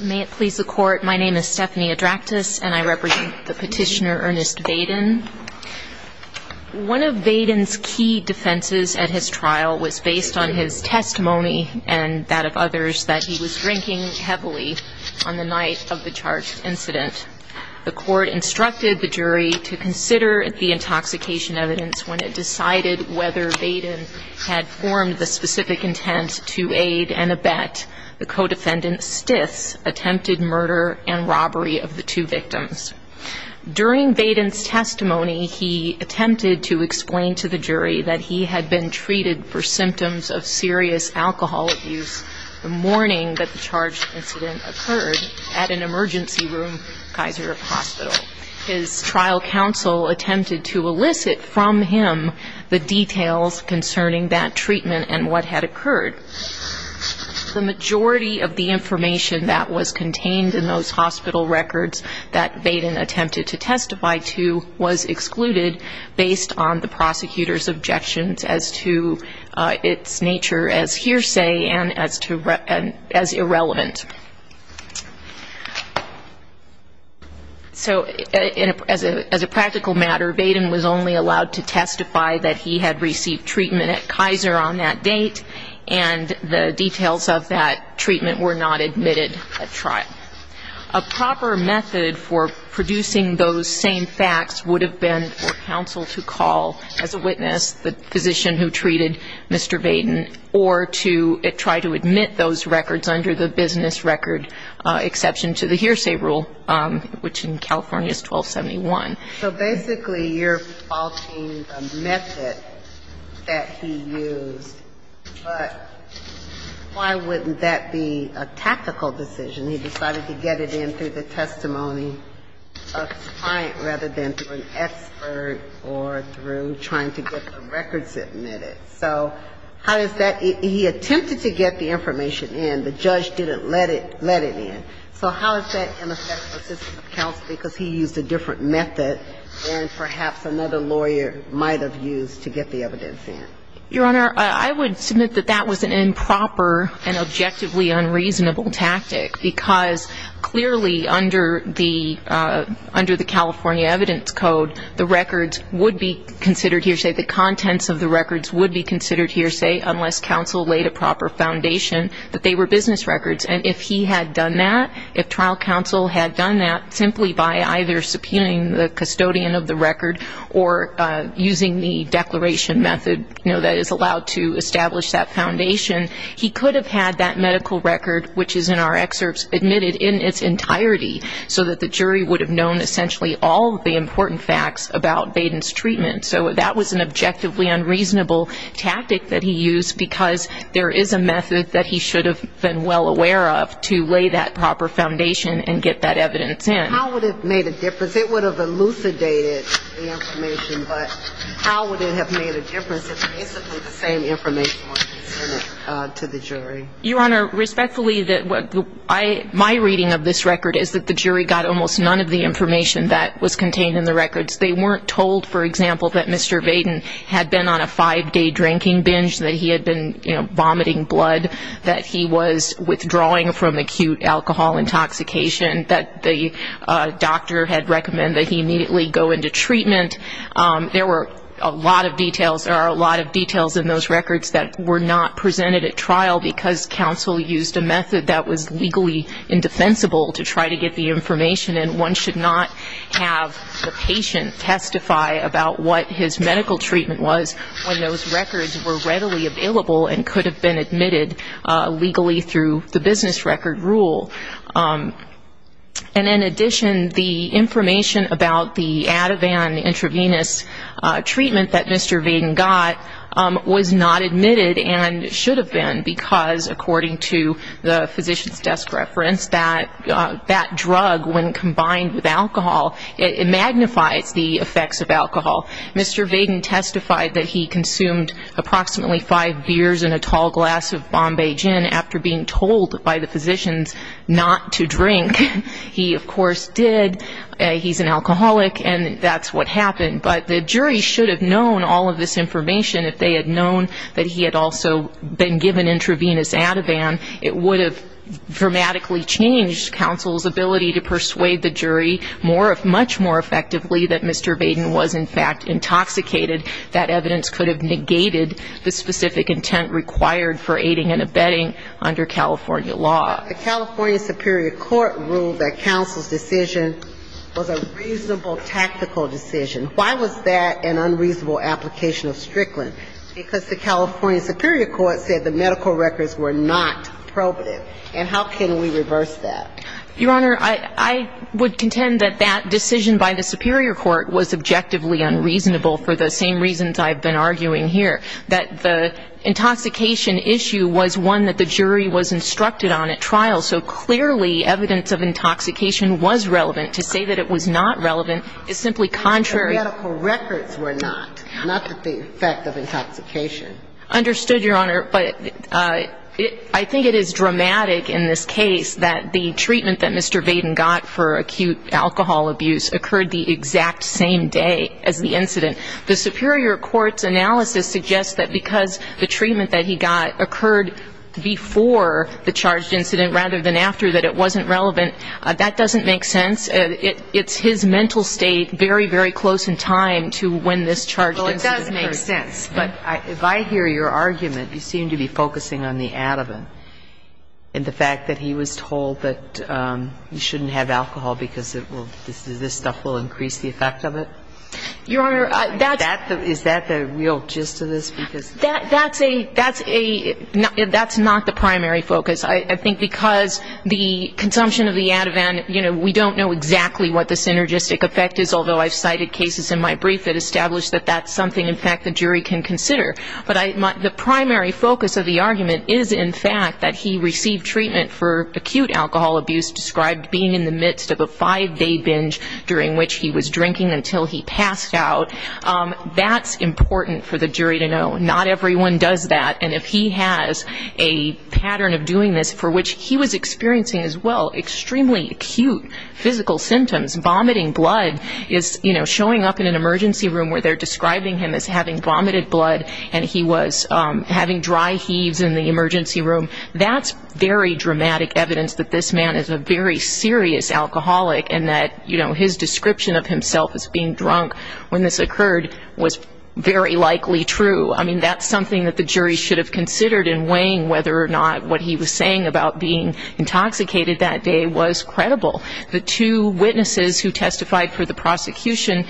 May it please the court, my name is Stephanie Adraktis and I represent the petitioner Ernest Vaden. One of Vaden's key defenses at his trial was based on his testimony and that of others that he was drinking heavily on the night of the charged incident. The court instructed the jury to consider the intoxication evidence when it decided whether Vaden had formed the specific intent to aid and abet the co-defendant Stith's attempted murder and robbery of the two victims. During Vaden's testimony he attempted to explain to the jury that he had been treated for symptoms of serious alcohol abuse the morning that the charged incident occurred at an emergency room Kaiser Hospital. His trial counsel attempted to elicit from him the details concerning that treatment and what had occurred. The majority of the information that was contained in those hospital records that Vaden attempted to testify to was excluded based on the prosecutor's objections as to its nature as hearsay and as irrelevant. So as a practical matter, Vaden was only allowed to testify that he had received treatment at Kaiser on that date, and the details of that treatment were not admitted at trial. A proper method for producing those same facts would have been for counsel to call as a witness the physician who treated Mr. Vaden or to try to admit those records under the business record exception to the hearsay rule, which in California is 1271. So basically you're faulting the method that he used, but why wouldn't that be a tactical decision? He decided to get it in through the testimony of his client rather than through an expert or through trying to get the records admitted. So how does that he attempted to get the information in. The judge didn't let it in. So how is that going to affect the system of counsel because he used a different method than perhaps another lawyer might have used to get the evidence in. Your Honor, I would submit that that was an improper and objectively unreasonable tactic because clearly under the California evidence code, the records would be considered hearsay. The contents of the records would be considered hearsay unless counsel laid a proper foundation that they were business records. And if he had done that, if trial counsel had done that simply by either subpoenaing the custodian of the record or using the declaration method that is allowed to establish that foundation, he could have had that medical record, which is in our excerpts, admitted in its entirety so that the jury would have known essentially all of the important facts about Vaden's treatment. So that was an objectively unreasonable tactic that he used because there is a method that he should have been well aware of to lay that proper foundation and get that evidence in. How would it have made a difference? It would have elucidated the information, but how would it have made a difference if basically the same information was presented to the jury? Your Honor, respectfully, my reading of this record is that the jury got almost none of the information that was contained in the records. They weren't told, for example, that Mr. Vaden had been on a five-day drinking binge, that he had been vomiting blood, that he was withdrawing from acute alcohol intoxication, that the doctor had recommended that he immediately go into treatment. There were a lot of details in those records that were not presented at trial because counsel used a method that was legally indefensible to try to get the information and one should not have the patient testify about what his medical treatment was when those records were readily available and could have been admitted legally through the business record rule. And in addition, the information about the Ativan intravenous treatment that Mr. Vaden got was not admitted and should have been because, according to the physician's desk reference, that drug, when combined with alcohol, it magnifies the effects of alcohol. Mr. Vaden testified that he consumed approximately five beers and a tall glass of Bombay gin after being told by the physicians not to drink. He, of course, did. He's an alcoholic, and that's what happened. But the jury should have known all of this information if they had known that he had also been given intravenous Ativan. It would have dramatically changed counsel's ability to persuade the jury much more effectively that Mr. Vaden was, in fact, intoxicated. That evidence could have negated the specific intent required for aiding and abetting under California law. The California superior court ruled that counsel's decision was a reasonable tactical decision. Why was that an unreasonable application of Strickland? Because the California superior court said the medical records were not probative. And how can we reverse that? Your Honor, I would contend that that decision by the superior court was objectively unreasonable for the same reasons I've been arguing here, that the intoxication issue was one that the jury was instructed on. And that trial, so clearly, evidence of intoxication was relevant. To say that it was not relevant is simply contrary. The medical records were not, not that the effect of intoxication. Understood, Your Honor. But I think it is dramatic in this case that the treatment that Mr. Vaden got for acute alcohol abuse occurred the exact same day as the incident. The superior court's analysis suggests that because the treatment that he got occurred before the charged incident rather than after, that it wasn't relevant. That doesn't make sense. It's his mental state very, very close in time to when this charged incident occurred. Well, it does make sense. But if I hear your argument, you seem to be focusing on the adevant and the fact that he was told that you shouldn't have alcohol because it will, this stuff will increase the effect of it. Your Honor, that's Is that the real gist of this? That's a, that's a, that's not the primary focus. I think because the consumption of the adevant, you know, we don't know exactly what the synergistic effect is, although I've cited cases in my brief that establish that that's something, in fact, the jury can consider. But the primary focus of the argument is, in fact, that he received treatment for acute alcohol abuse described being in the midst of a five-day binge during which he was drinking until he passed out. That's important for the jury to know. Not everyone does that. And if he has a pattern of doing this for which he was experiencing as well extremely acute physical symptoms, vomiting blood is, you know, showing up in an emergency room where they're describing him as having vomited blood and he was having dry heaves in the emergency room, that's very dramatic evidence that this description of himself as being drunk when this occurred was very likely true. I mean, that's something that the jury should have considered in weighing whether or not what he was saying about being intoxicated that day was credible. The two witnesses who testified for the prosecution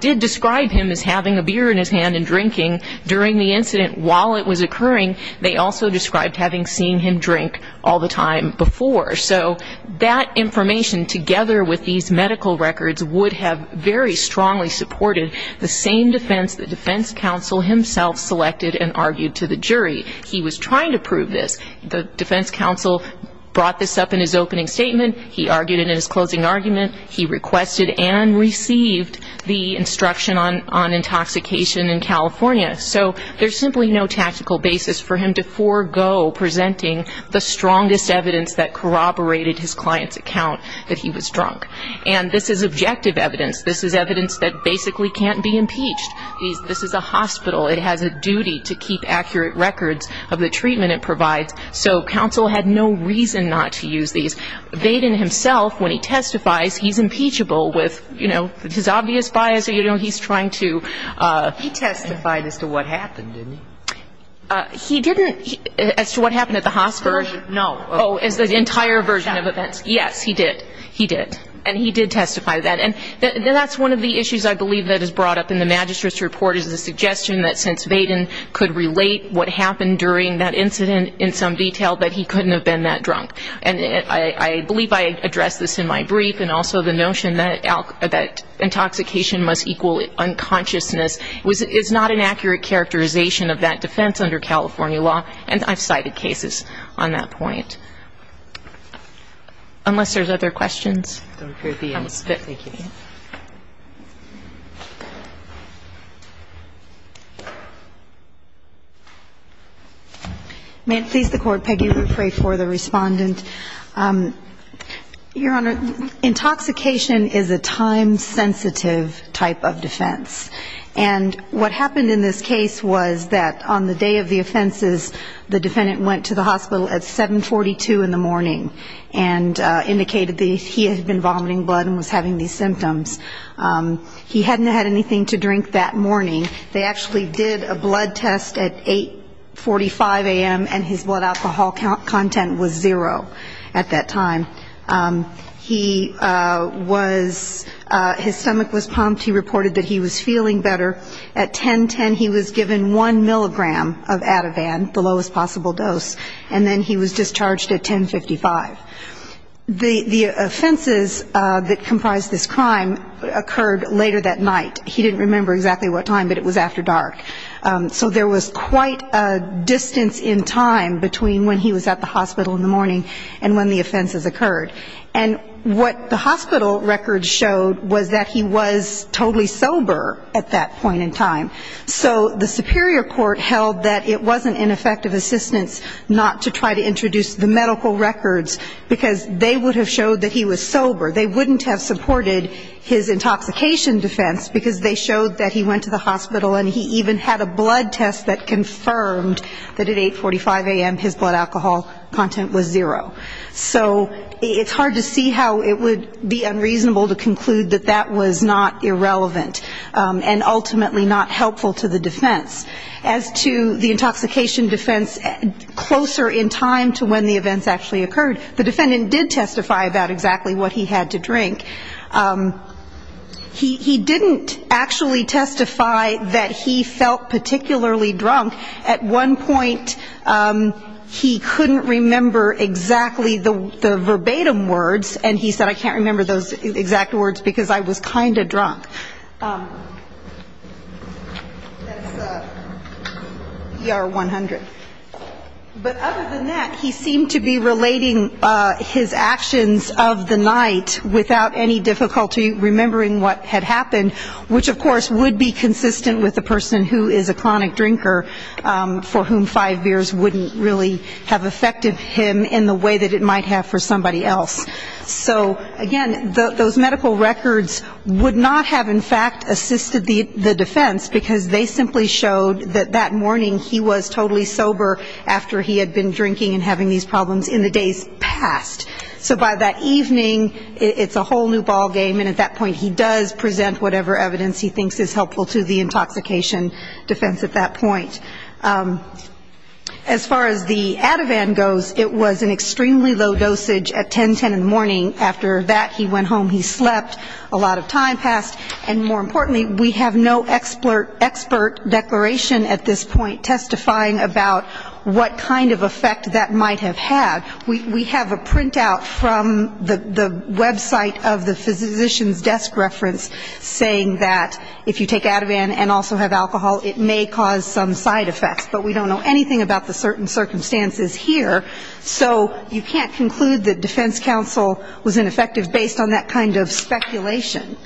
did describe him as having a beer in his hand and drinking during the incident while it was occurring. They also described having seen him drink all the time before. So that information together with these medical records would have very strongly supported the same defense the defense counsel himself selected and argued to the jury. He was trying to prove this. The defense counsel brought this up in his opening statement. He argued it in his closing argument. He requested and received the instruction on intoxication in California. So there's simply no tactical basis for him to forego presenting the strongest evidence that corroborated his client's account that he was drunk. And this is objective evidence. This is evidence that basically can't be impeached. This is a hospital. It has a duty to keep accurate records of the treatment it provides. So counsel had no reason not to use these. Baden himself, when he testifies, he's impeachable with, you know, his obvious bias or, you know, he's trying to. He testified as to what happened, didn't he? He didn't as to what happened at the hospital. No. Oh, as the entire version of events. Yes, he did. He did. And he did testify to that. And that's one of the issues I believe that is brought up in the magistrate's report is the suggestion that since Baden could relate what happened during that incident in some detail, that he couldn't have been that drunk. And I believe I addressed this in my brief, and also the notion that intoxication must equal unconsciousness is not an accurate characterization of that defense under California law. And I've cited cases on that point. Unless there's other questions. Thank you. May it please the Court, Peggy, we pray for the respondent. Your Honor, intoxication is a time-sensitive type of defense. And what happened in this case was that on the day of the offenses, the defendant went to the hospital at 742 in the morning and indicated that he had been vomiting blood and was having these symptoms. He hadn't had anything to drink that morning. They actually did a blood test at 845 a.m. and his blood alcohol content was zero at that time. He was his stomach was pumped. He reported that he was feeling better. At 10.10 he was given one milligram of Ativan, the lowest possible dose, and then he was discharged at 10.55. The offenses that comprised this crime occurred later that night. He didn't remember exactly what time, but it was after dark. So there was quite a distance in time between when he was at the hospital in the morning and when the offenses occurred. And what the hospital records showed was that he was totally sober at that point in time. So the superior court held that it wasn't an effective assistance not to try to introduce the medical records because they would have showed that he was sober. They wouldn't have supported his intoxication defense because they showed that he went to the hospital and he even had a blood test that confirmed that at 845 a.m. his blood alcohol content was zero. So it's hard to see how it would be unreasonable to conclude that that was not irrelevant and ultimately not helpful to the defense. As to the intoxication defense closer in time to when the events actually occurred, the defendant did testify about exactly what he had to drink. He didn't actually testify that he felt particularly drunk. At one point he couldn't remember exactly the verbatim words, and he said I can't remember those exact words because I was kind of drunk. That's ER 100. But other than that, he seemed to be relating his actions of the night without any difficulty remembering what had happened, which, of course, would be consistent with a person who is a chronic drinker for whom five beers wouldn't really have affected him in the way that it might have for somebody else. So, again, those medical records would not have in fact assisted the defense because they simply showed that that morning he was totally sober after he had been drinking and having these problems in the days past. So by that evening, it's a whole new ballgame, and at that point he does present whatever evidence he thinks is helpful to the intoxication defense at that point. As far as the Ativan goes, it was an extremely low dosage at 10, 10 in the morning. After that, he went home, he slept, a lot of time passed. And more importantly, we have no expert declaration at this point testifying about what kind of effect that might have had. We have a printout from the website of the physician's desk reference saying that if you take Ativan and also have alcohol, it may cause some side effects, but we don't know anything about the certain circumstances here. So you can't conclude that defense counsel was ineffective based on that kind of speculation.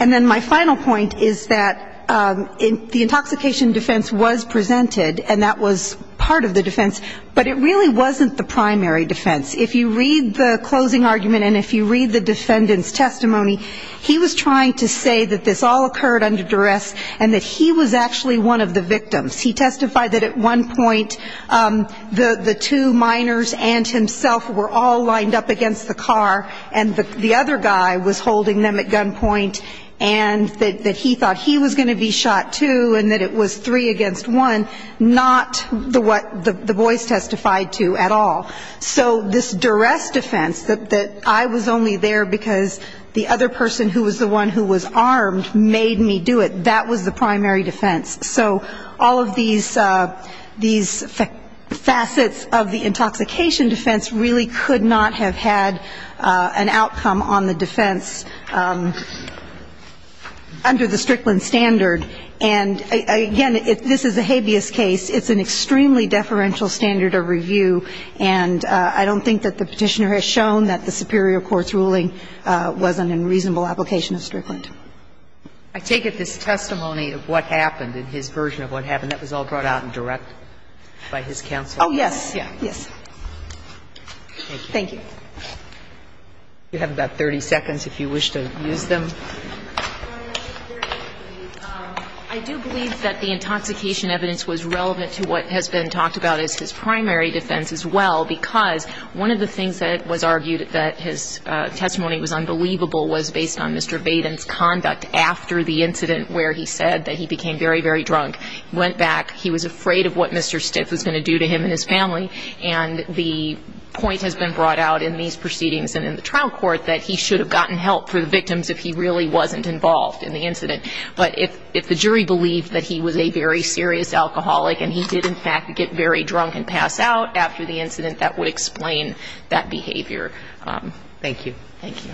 And then my final point is that the intoxication defense was presented, and that was part of the defense, but it really wasn't the primary defense. If you read the closing argument and if you read the defendant's testimony, he was trying to say that this all occurred under duress and that he was actually one of the victims. He testified that at one point the two minors and himself were all lined up against the car, and the other guy was holding them at gunpoint, and that he thought he was going to be shot, too, and that it was three against one, not what the boys testified to at all. So this duress defense, that I was only there because the other person who was the one who was armed made me do it, that was the primary defense. So all of these facets of the intoxication defense really could not have had an outcome on the defense under the Strickland standard. And, again, this is a habeas case. It's an extremely deferential standard of review, and I don't think that the Petitioner has shown that the superior court's ruling was an unreasonable application of Strickland. I take it this testimony of what happened, in his version of what happened, that was all brought out in direct by his counsel? Oh, yes. Yes. Thank you. You have about 30 seconds if you wish to use them. I do believe that the intoxication evidence was relevant to what has been talked about as his primary defense as well, because one of the things that was argued that his testimony was unbelievable was based on Mr. Baden's conduct after the incident where he said that he became very, very drunk, went back, he was afraid of what Mr. Stiff was going to do to him and his family, and the point has been brought out in these proceedings and in the trial court that he should have gotten help for the victims if he really wasn't involved in the incident. But if the jury believed that he was a very serious alcoholic and he did, in fact, get very drunk and pass out after the incident, that would explain that behavior. Thank you. Thank you.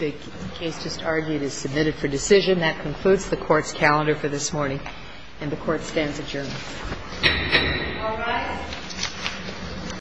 The case just argued is submitted for decision. That concludes the Court's calendar for this morning, and the Court stands adjourned. All rise.